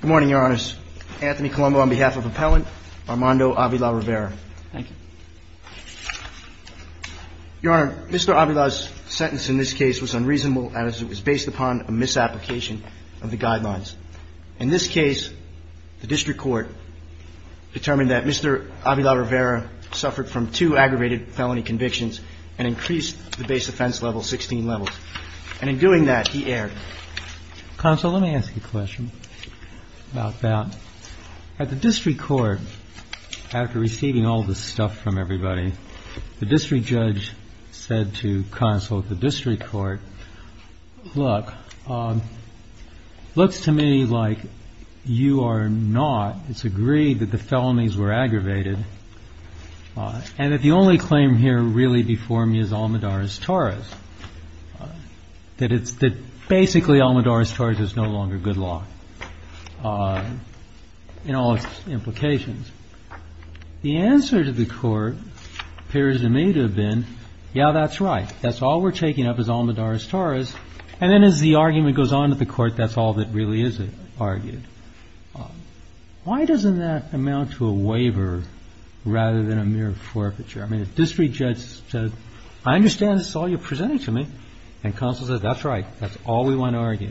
Good morning, Your Honor. Anthony Colombo on behalf of Appellant Armando Avila-Rivera. Thank you. Your Honor, Mr. Avila's sentence in this case was unreasonable as it was based upon a misapplication of the guidelines. In this case, the district court determined that Mr. Avila-Rivera suffered from two aggravated felony convictions and increased the base offense level 16 levels. And in doing that, he erred. Counsel, let me ask you a question about that. At the district court, after receiving all this stuff from everybody, the district judge said to counsel at the district court, look, looks to me like you are not, it's agreed that the felonies were aggravated and that the only claim here really before me is Almadarez-Torres, that basically Almadarez-Torres is no longer good law in all its implications. The answer to the court appears to me to have been, yeah, that's right. That's all we're taking up is Almadarez-Torres. And then as the argument goes on at the court, that's all that really is argued. Why doesn't that amount to a waiver rather than a mere forfeiture? I mean, the district judge said, I understand this is all you're presenting to me. And counsel says, that's right. That's all we want to argue.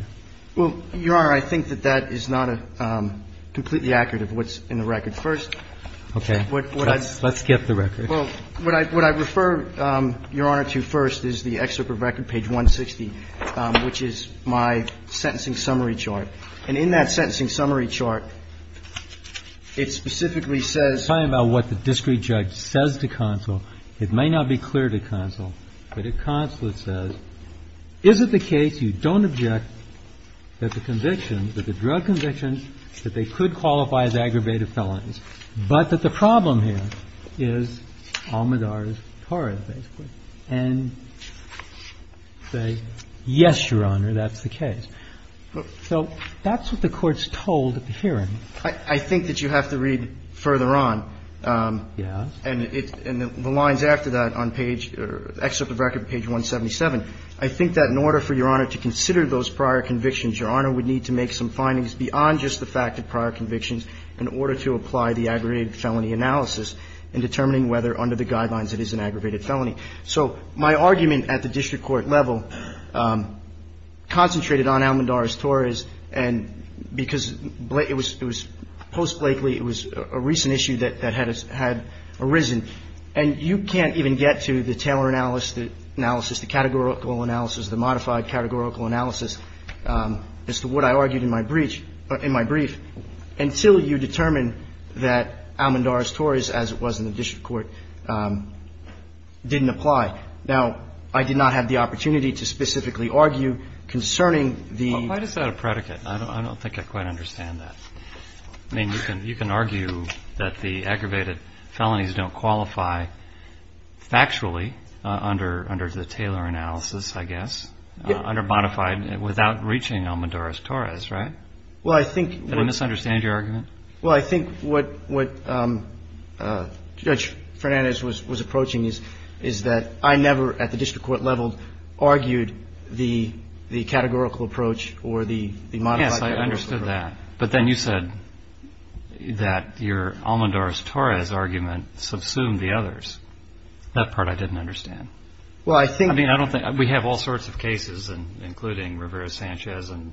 Well, Your Honor, I think that that is not a completely accurate of what's in the record. First of all, what I refer Your Honor to first is the excerpt of record page 160, which is my sentencing summary chart. And in that sentencing summary chart, it specifically says – It's talking about what the district judge says to counsel. It may not be clear to counsel, but it constantly says, is it the case you don't object that the conviction, that the drug conviction, that they could qualify as aggravated felonies, but that the problem here is Almadarez-Torres, basically, and say, yes, Your Honor, that's the case. So that's what the Court's told at the hearing. I think that you have to read further on. Yes. And the lines after that on page – excerpt of record page 177. I think that in order for Your Honor to consider those prior convictions, Your Honor would need to make some findings beyond just the fact of prior convictions in order to apply the aggravated felony analysis in determining whether under the guidelines it is an aggravated felony. So my argument at the district court level concentrated on Almadarez-Torres and because it was post-Blakely, it was a recent issue that had arisen, and you can't even get to the Taylor analysis, the categorical analysis, the modified categorical analysis as to what I argued in my brief, until you determine that Almadarez-Torres, as it was in the district court, didn't apply. Now, I did not have the opportunity to specifically argue concerning the – Why is that a predicate? I don't think I quite understand that. I mean, you can argue that the aggravated felonies don't qualify factually under the Taylor analysis, I guess, under modified without reaching Almadarez-Torres, right? Well, I think – Did I misunderstand your argument? Well, I think what Judge Fernandez was approaching is that I never, at the district court level, argued the categorical approach or the modified categorical approach. Yes, I understood that. But then you said that your Almadarez-Torres argument subsumed the others. That part I didn't understand. Well, I think – I mean, I don't think – we have all sorts of cases, including Rivera-Sanchez and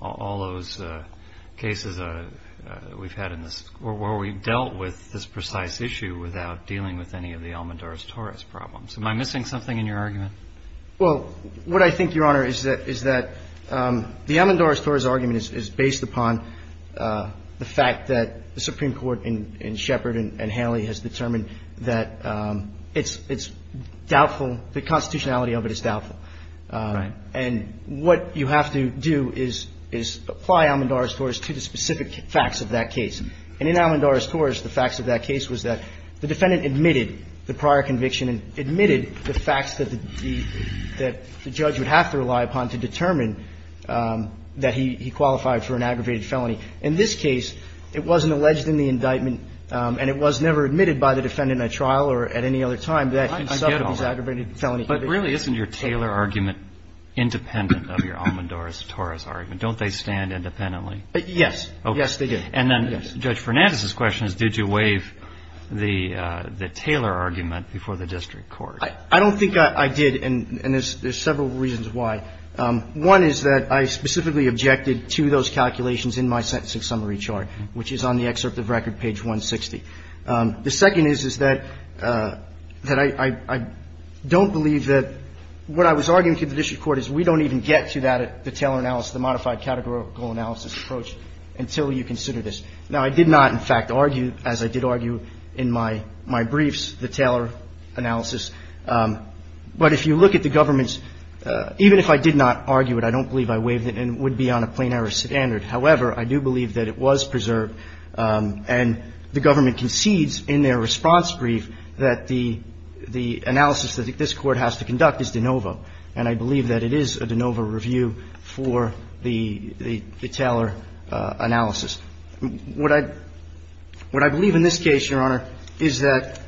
all those cases we've had in this – where we've dealt with this precise issue without dealing with any of the Almadarez-Torres problems. Am I missing something in your argument? Well, what I think, Your Honor, is that the Almadarez-Torres argument is based upon the fact that the Supreme Court in Shepard and Hanley has determined that it's doubtful – the constitutionality of it is doubtful. Right. And what you have to do is apply Almadarez-Torres to the specific facts of that case. And in Almadarez-Torres, the facts of that case was that the defendant admitted the prior conviction and admitted the facts that the judge would have to rely upon to determine that he qualified for an aggravated felony. In this case, it wasn't alleged in the indictment and it was never admitted by the defendant at trial or at any other time that he suffered this aggravated felony conviction. But really, isn't your Taylor argument independent of your Almadarez-Torres argument? Don't they stand independently? Yes. Yes, they do. Okay. And then Judge Fernandez's question is, did you waive the Taylor argument before the district court? I don't think I did, and there's several reasons why. One is that I specifically objected to those calculations in my sentencing summary chart, which is on the excerpt of record, page 160. The second is, is that I don't believe that what I was arguing to the district court is we don't even get to that at the Taylor analysis, the modified categorical analysis approach, until you consider this. Now, I did not, in fact, argue, as I did argue in my briefs, the Taylor analysis. But if you look at the government's – even if I did not argue it, I don't believe I waived it and it would be on a plain-error standard. However, I do believe that it was preserved, and the government concedes in their response brief that the analysis that this Court has to conduct is de novo. And I believe that it is a de novo review for the Taylor analysis. What I believe in this case, Your Honor, is that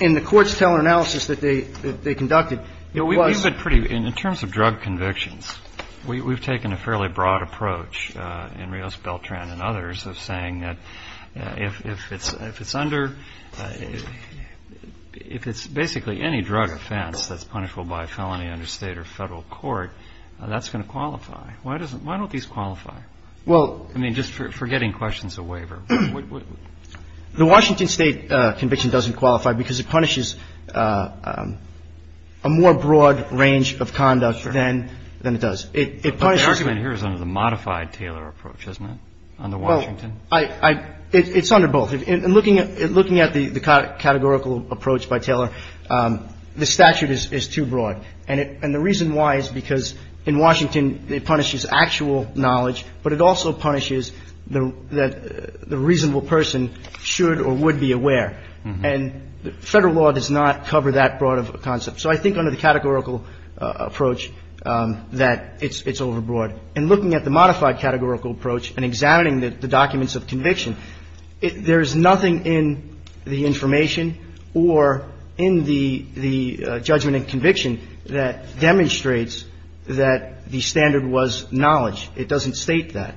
in the court's Taylor analysis that they conducted, it was – the judge's approach in Rios-Beltran and others of saying that if it's under – if it's basically any drug offense that's punishable by a felony under State or Federal court, that's going to qualify. Why doesn't – why don't these qualify? I mean, just for getting questions, a waiver. What would – The Washington State conviction doesn't qualify because it punishes a more broad range of conduct than it does. But the argument here is under the modified Taylor approach, isn't it, under Washington? Well, I – it's under both. In looking at the categorical approach by Taylor, the statute is too broad. And the reason why is because in Washington it punishes actual knowledge, but it also punishes that the reasonable person should or would be aware. And Federal law does not cover that broad of a concept. So I think under the categorical approach that it's overbroad. In looking at the modified categorical approach and examining the documents of conviction, there is nothing in the information or in the judgment and conviction that demonstrates that the standard was knowledge. It doesn't state that.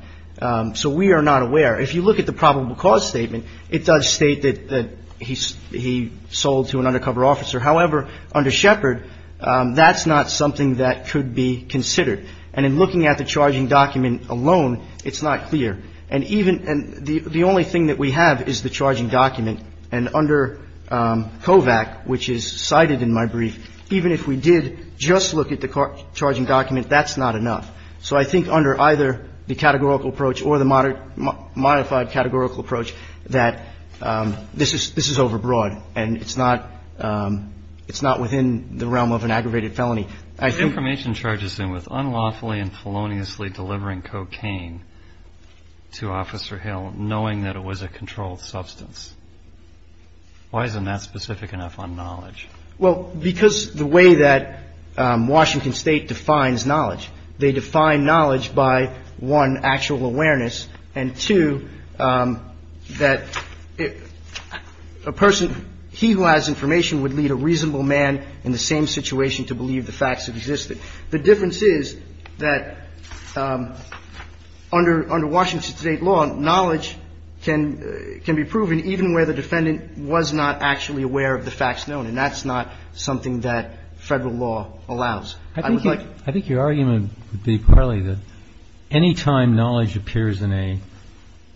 So we are not aware. If you look at the probable cause statement, it does state that he sold to an undercover officer. However, under Shepard, that's not something that could be considered. And in looking at the charging document alone, it's not clear. And even – and the only thing that we have is the charging document. And under COVAC, which is cited in my brief, even if we did just look at the charging document, that's not enough. So I think under either the categorical approach or the modified categorical approach, that this is overbroad. And it's not within the realm of an aggravated felony. I think – The information charges him with unlawfully and feloniously delivering cocaine to Officer Hill, knowing that it was a controlled substance. Why isn't that specific enough on knowledge? Well, because the way that Washington State defines knowledge, they define knowledge by, one, actual awareness, and, two, that a person – he who has information would lead a reasonable man in the same situation to believe the facts existed. The difference is that under Washington State law, knowledge can be proven even where the defendant was not actually aware of the facts known, and that's not something that Federal law allows. I would like – I think your argument would be partly that any time knowledge appears in a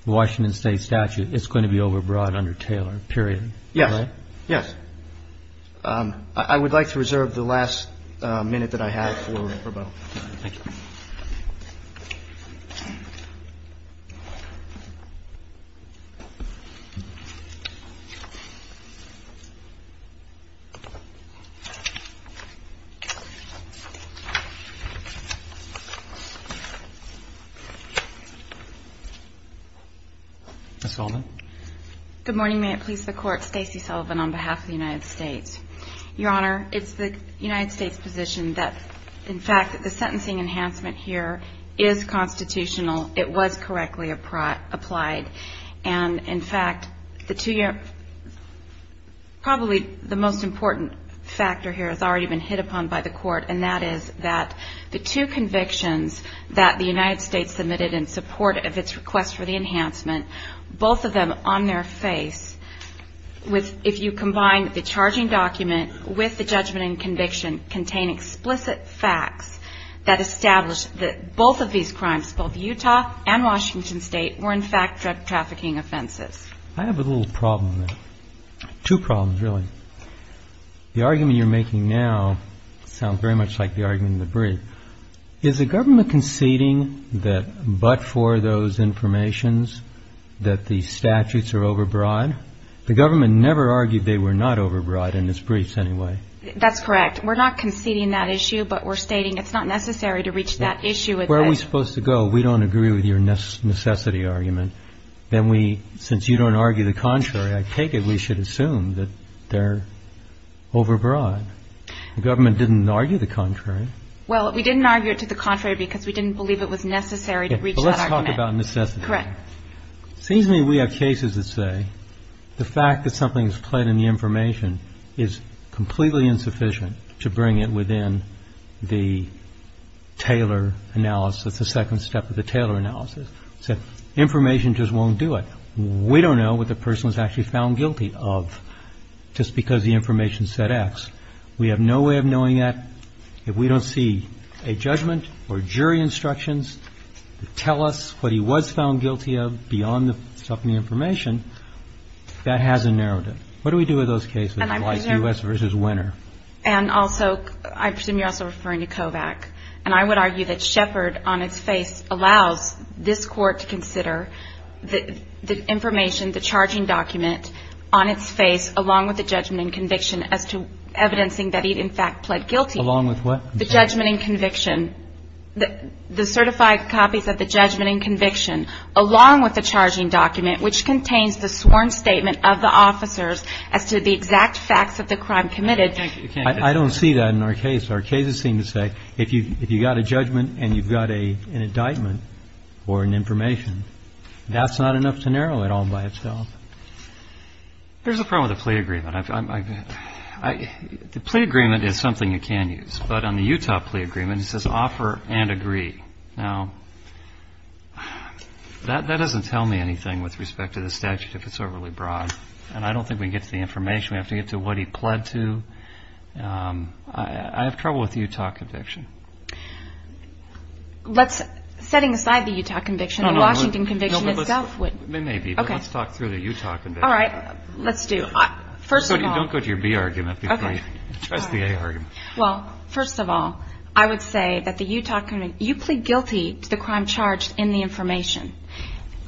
Washington State statute, it's going to be overbroad under Taylor, period. Yes. Yes. I would like to reserve the last minute that I have for rebuttal. Thank you. Ms. Sullivan? Good morning. May it please the Court, Stacey Sullivan on behalf of the United States. Your Honor, it's the United States' position that, in fact, the sentencing enhancement here is constitutional. It was correctly applied. And, in fact, the two – probably the most important factor here has already been hit upon by the Court, and that is that the two convictions that the United States submitted in support of its request for the enhancement, both of them on their face, with – if you the judgment and conviction contain explicit facts that establish that both of these crimes, both Utah and Washington State, were, in fact, drug trafficking offenses. I have a little problem. Two problems, really. The argument you're making now sounds very much like the argument in the brief. Is the government conceding that, but for those informations, that the statutes are overbroad? Overbroad? The government never argued they were not overbroad in its briefs, anyway. That's correct. We're not conceding that issue, but we're stating it's not necessary to reach that issue. Where are we supposed to go? We don't agree with your necessity argument. Then we – since you don't argue the contrary, I take it we should assume that they're overbroad. The government didn't argue the contrary. Well, we didn't argue it to the contrary because we didn't believe it was necessary to reach that argument. But let's talk about necessity. Correct. It seems to me we have cases that say the fact that something is pled in the information is completely insufficient to bring it within the Taylor analysis, the second step of the Taylor analysis. So information just won't do it. We don't know what the person was actually found guilty of just because the information said X. We have no way of knowing that if we don't see a judgment or jury instructions to tell us what he was found guilty of beyond the stuff in the information, that has a narrative. What do we do with those cases like U.S. v. Winner? And also – I presume you're also referring to Kovach. And I would argue that Shepard on its face allows this court to consider the information, the charging document, on its face along with the judgment and conviction as to evidencing that he in fact pled guilty. Along with what? The judgment and conviction. The certified copies of the judgment and conviction along with the charging document which contains the sworn statement of the officers as to the exact facts of the crime committed. I don't see that in our case. Our cases seem to say if you've got a judgment and you've got an indictment or an information, that's not enough to narrow it all by itself. There's a problem with the plea agreement. The plea agreement is something you can use. But on the Utah plea agreement, it says offer and agree. Now, that doesn't tell me anything with respect to the statute if it's overly broad. And I don't think we can get to the information. We have to get to what he pled to. I have trouble with the Utah conviction. Let's – setting aside the Utah conviction, the Washington conviction itself would – Maybe, but let's talk through the Utah conviction. All right. Let's do. First of all – Don't go to your B argument before you address the A argument. Well, first of all, I would say that the Utah – you plead guilty to the crime charged in the information.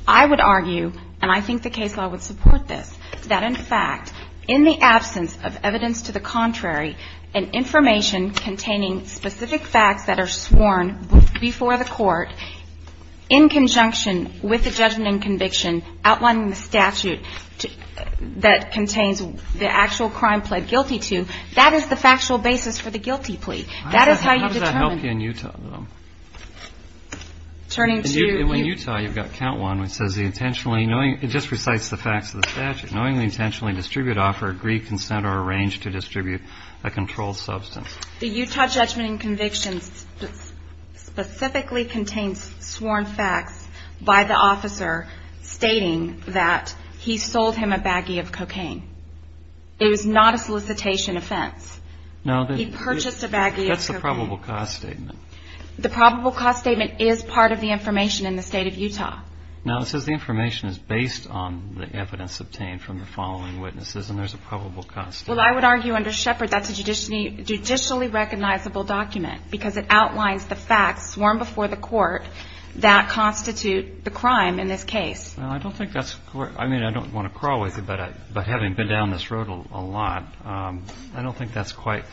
I would argue, and I think the case law would support this, that in fact, in the absence of evidence to the contrary and information containing specific facts that are sworn before the court in conjunction with the judgment and conviction outlining the statute that contains the actual crime pled guilty to, that is the factual basis for the guilty plea. That is how you determine – How does that help you in Utah, though? Turning to – In Utah, you've got count one, which says the intentionally – it just recites the facts of the statute. Knowingly, intentionally distribute, offer, agree, consent, or arrange to distribute a controlled substance. The Utah judgment and convictions specifically contain sworn facts by the officer stating that he sold him a baggie of cocaine. It was not a solicitation offense. He purchased a baggie of cocaine. That's a probable cause statement. The probable cause statement is part of the information in the state of Utah. Now, it says the information is based on the evidence obtained from the following witnesses, and there's a probable cause statement. Well, I would argue under Shepard, that's a judicially recognizable document, because it outlines the facts sworn before the court that constitute the crime in this case. I don't think that's – I mean, I don't want to crawl with you, but having been down this road a lot, I don't think that's quite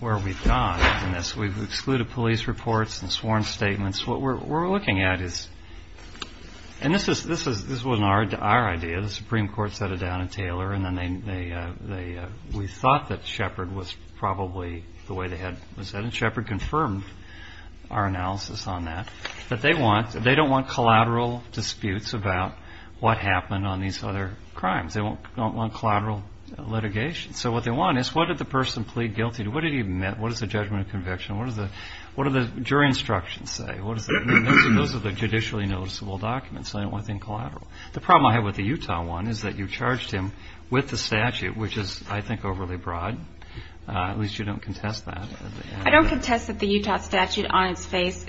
where we've gone in this. We've excluded police reports and sworn statements. What we're looking at is – and this wasn't our idea. The Supreme Court set it down in Taylor, and then they – we thought that Shepard was probably the way they had – and Shepard confirmed our analysis on that. But they want – they don't want collateral disputes about what happened on these other crimes. They don't want collateral litigation. So what they want is what did the person plead guilty to? What did he admit? What is the judgment of conviction? What does the jury instructions say? Those are the judicially noticeable documents, so they don't want anything collateral. The problem I have with the Utah one is that you charged him with the statute, which is, I think, overly broad. At least you don't contest that. I don't contest that the Utah statute on its face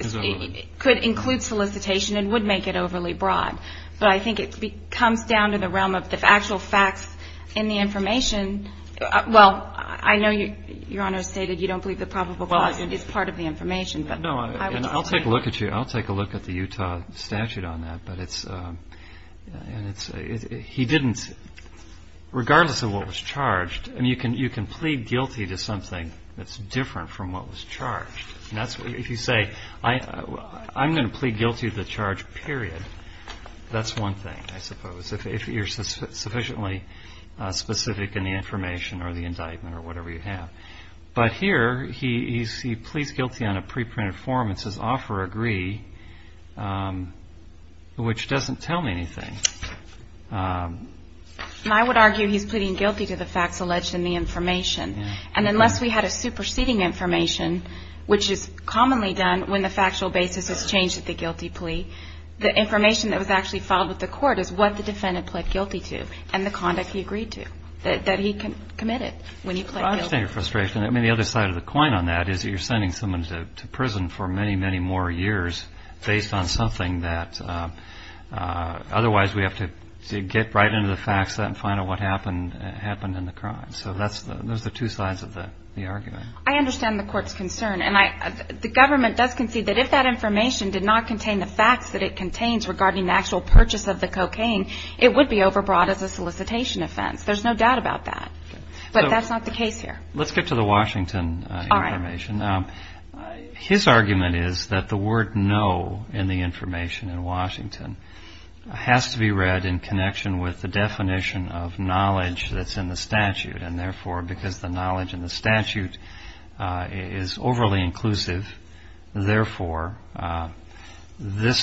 could include solicitation and would make it overly broad. But I think it comes down to the realm of the actual facts in the information. Well, I know Your Honor stated you don't believe the probable cause is part of the information. No, and I'll take a look at you. I'll take a look at the Utah statute on that. But it's – he didn't – regardless of what was charged – I mean, you can plead guilty to something that's different from what was charged. If you say, I'm going to plead guilty to the charge, period, that's one thing, I suppose, if you're sufficiently specific in the information or the indictment or whatever you have. But here he pleads guilty on a pre-printed form. It says, Offer Agree, which doesn't tell me anything. And I would argue he's pleading guilty to the facts alleged in the information. And unless we had a superseding information, which is commonly done when the factual basis has changed at the guilty plea, the information that was actually filed with the court is what the defendant pled guilty to and the conduct he agreed to, that he committed when he pled guilty. Well, I understand your frustration. I mean, the other side of the coin on that is you're sending someone to prison for many, many more years based on something that otherwise we have to get right into the facts and find out what happened in the crime. So those are the two sides of the argument. I understand the court's concern. And the government does concede that if that information did not contain the facts that it contains regarding the actual purchase of the cocaine, it would be overbought as a solicitation offense. There's no doubt about that. But that's not the case here. Let's get to the Washington information. His argument is that the word no in the information in Washington has to be read in connection with the definition of knowledge that's in the statute, and therefore because the knowledge in the statute is overly inclusive, therefore the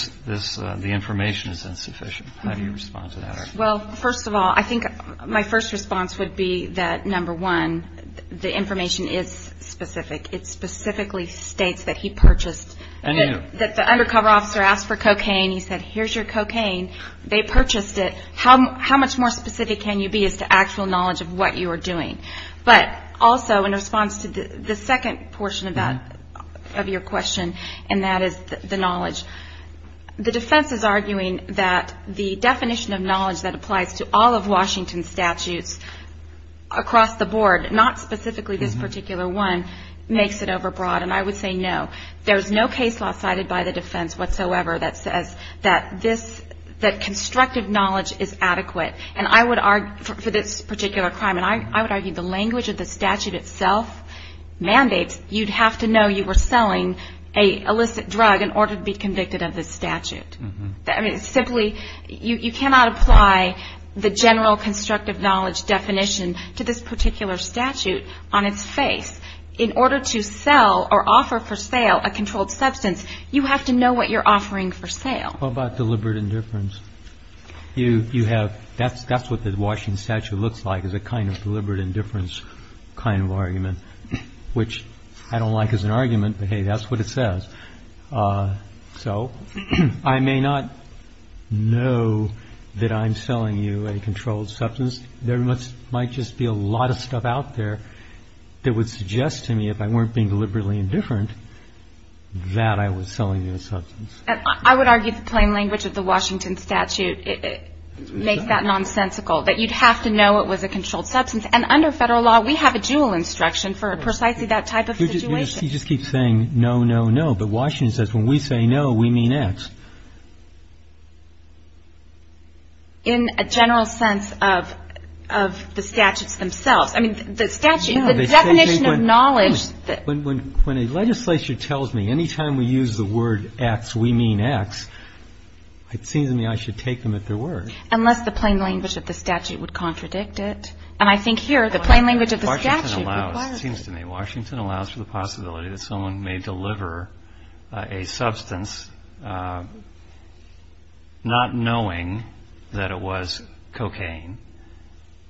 information is insufficient. How do you respond to that? Well, first of all, I think my first response would be that, number one, the information is specific. It specifically states that he purchased, that the undercover officer asked for cocaine. He said, here's your cocaine. They purchased it. How much more specific can you be as to actual knowledge of what you are doing? But also in response to the second portion of your question, and that is the knowledge, the defense is arguing that the definition of knowledge that applies to all of Washington's statutes across the board, not specifically this particular one, makes it overbroad. And I would say no. There's no case law cited by the defense whatsoever that says that this, that constructive knowledge is adequate. And I would argue for this particular crime, and I would argue the language of the statute itself mandates you'd have to know you were selling an illicit drug in order to be convicted of this statute. Simply, you cannot apply the general constructive knowledge definition to this particular statute on its face. In order to sell or offer for sale a controlled substance, you have to know what you're offering for sale. What about deliberate indifference? You have, that's what the Washington statute looks like, is a kind of deliberate indifference kind of argument, which I don't like as an argument, but hey, that's what it says. So I may not know that I'm selling you a controlled substance. There might just be a lot of stuff out there that would suggest to me, if I weren't being deliberately indifferent, that I was selling you a substance. And I would argue the plain language of the Washington statute makes that nonsensical, that you'd have to know it was a controlled substance. And under Federal law, we have a dual instruction for precisely that type of situation. You just keep saying no, no, no, but Washington says when we say no, we mean X. In a general sense of the statutes themselves. I mean, the statute, the definition of knowledge. When a legislature tells me any time we use the word X, we mean X, it seems to me I should take them at their word. Unless the plain language of the statute would contradict it. And I think here the plain language of the statute requires it. It seems to me Washington allows for the possibility that someone may deliver a substance not knowing that it was cocaine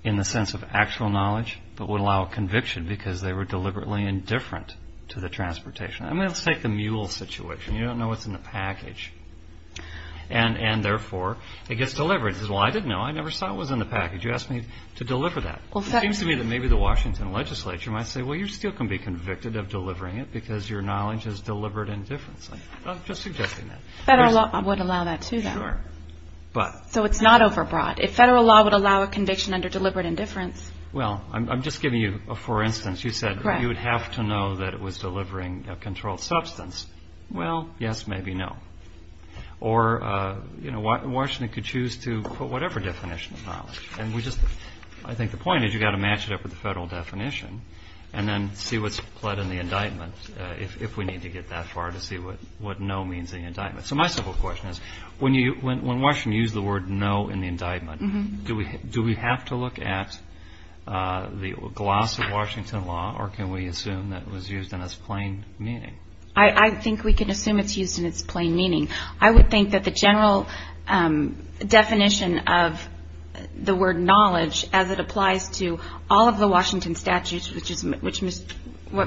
in the sense of actual knowledge, but would allow conviction because they were deliberately indifferent to the transportation. I mean, let's take the mule situation. You don't know what's in the package. And therefore, it gets delivered. It says, well, I didn't know. I never saw what was in the package. You asked me to deliver that. It seems to me that maybe the Washington legislature might say, well, you still can be convicted of delivering it because your knowledge is deliberate indifference. I'm just suggesting that. Federal law would allow that, too, though. Sure. So it's not overbroad. If federal law would allow a conviction under deliberate indifference. Well, I'm just giving you a for instance. You said you would have to know that it was delivering a controlled substance. Well, yes, maybe no. Or, you know, Washington could choose to put whatever definition of knowledge. I think the point is you've got to match it up with the federal definition and then see what's pled in the indictment, if we need to get that far to see what no means in the indictment. So my simple question is, when Washington used the word no in the indictment, do we have to look at the gloss of Washington law or can we assume that it was used in its plain meaning? I think we can assume it's used in its plain meaning. I would think that the general definition of the word knowledge as it applies to all of the Washington statutes, which is what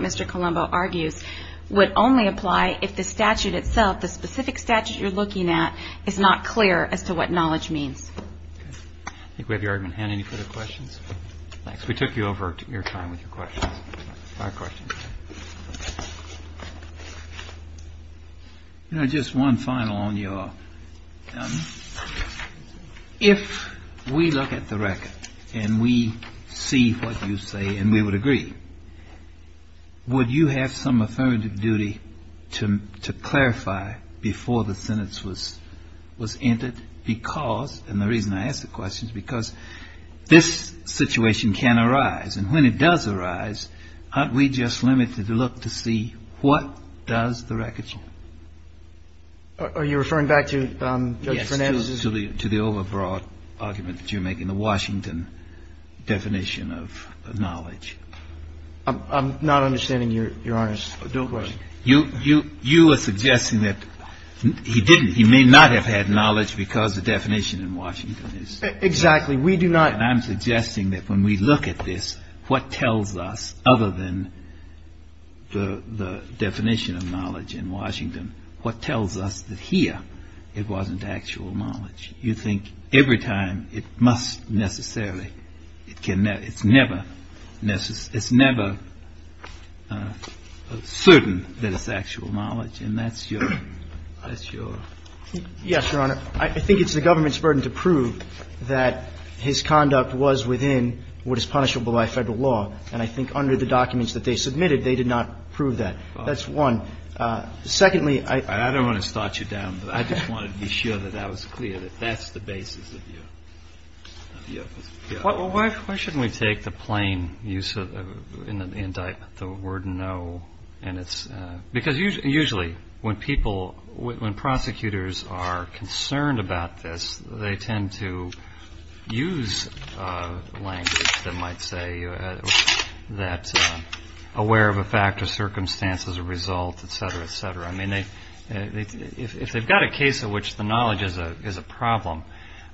Mr. Colombo argues, would only apply if the statute itself, the specific statute you're looking at, is not clear as to what knowledge means. Okay. I think we have your argument. Ann, any further questions? Thanks. We took you over your time with your questions. Five questions. You know, just one final on your... If we look at the record and we see what you say and we would agree, would you have some affirmative duty to clarify before the sentence was entered because, and the reason I ask the question is because this situation can arise and when it does arise, aren't we just limited to look to see what does the record say? Are you referring back to Judge Fernandez's... Yes, to the overbroad argument that you make in the Washington definition of knowledge. I'm not understanding Your Honor's dual question. Of course. You are suggesting that he didn't, he may not have had knowledge because the definition in Washington is... Exactly. We do not... And I'm suggesting that when we look at this, what tells us, other than the definition of knowledge in Washington, what tells us that here it wasn't actual knowledge? You think every time it must necessarily, it's never certain that it's actual knowledge Yes, Your Honor. I think it's the government's burden to prove that his conduct was within what is punishable by Federal law. And I think under the documents that they submitted, they did not prove that. That's one. Secondly, I... I don't want to start you down, but I just wanted to be sure that that was clear, that that's the basis of your... Why shouldn't we take the plain use of, in the indictment, the word no and it's, because usually when people, when prosecutors are concerned about this, they tend to use language that might say that aware of a fact or circumstance as a result, et cetera, et cetera. I mean, if they've got a case in which the knowledge is a problem,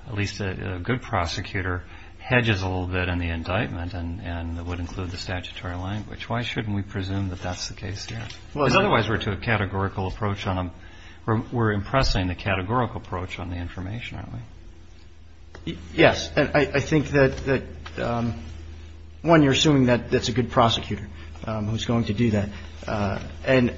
at least a good prosecutor hedges a little bit in the indictment and would include the statutory language. Why shouldn't we presume that that's the case there? Because otherwise we're to a categorical approach on them. We're impressing the categorical approach on the information, aren't we? Yes. And I think that, one, you're assuming that that's a good prosecutor who's going to do that. And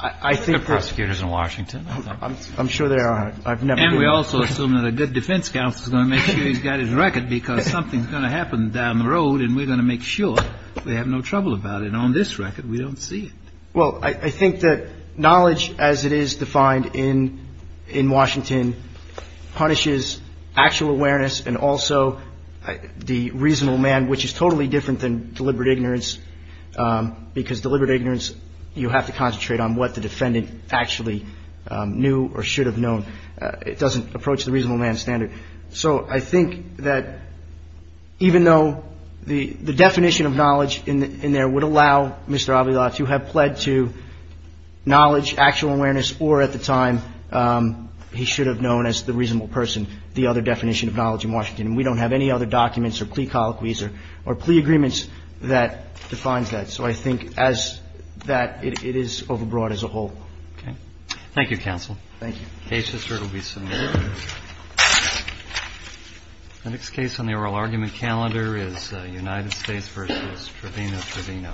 I think that... There are good prosecutors in Washington, I think. I'm sure there are. I've never... And we also assume that a good defense counsel is going to make sure he's got his record because something's going to happen down the road and we're going to make sure they have no trouble about it. On this record, we don't see it. Well, I think that knowledge as it is defined in Washington punishes actual awareness and also the reasonable man, which is totally different than deliberate ignorance because deliberate ignorance, you have to concentrate on what the defendant actually knew or should have known. It doesn't approach the reasonable man standard. So I think that even though the definition of knowledge in there would allow Mr. Avila to have pled to knowledge, actual awareness, or at the time he should have known as the reasonable person, the other definition of knowledge in Washington. We don't have any other documents or plea colloquies or plea agreements that defines that. So I think as that, it is overbroad as a whole. Okay. Thank you, counsel. Thank you. Cases will be submitted. The next case on the oral argument calendar is United States versus Trevino.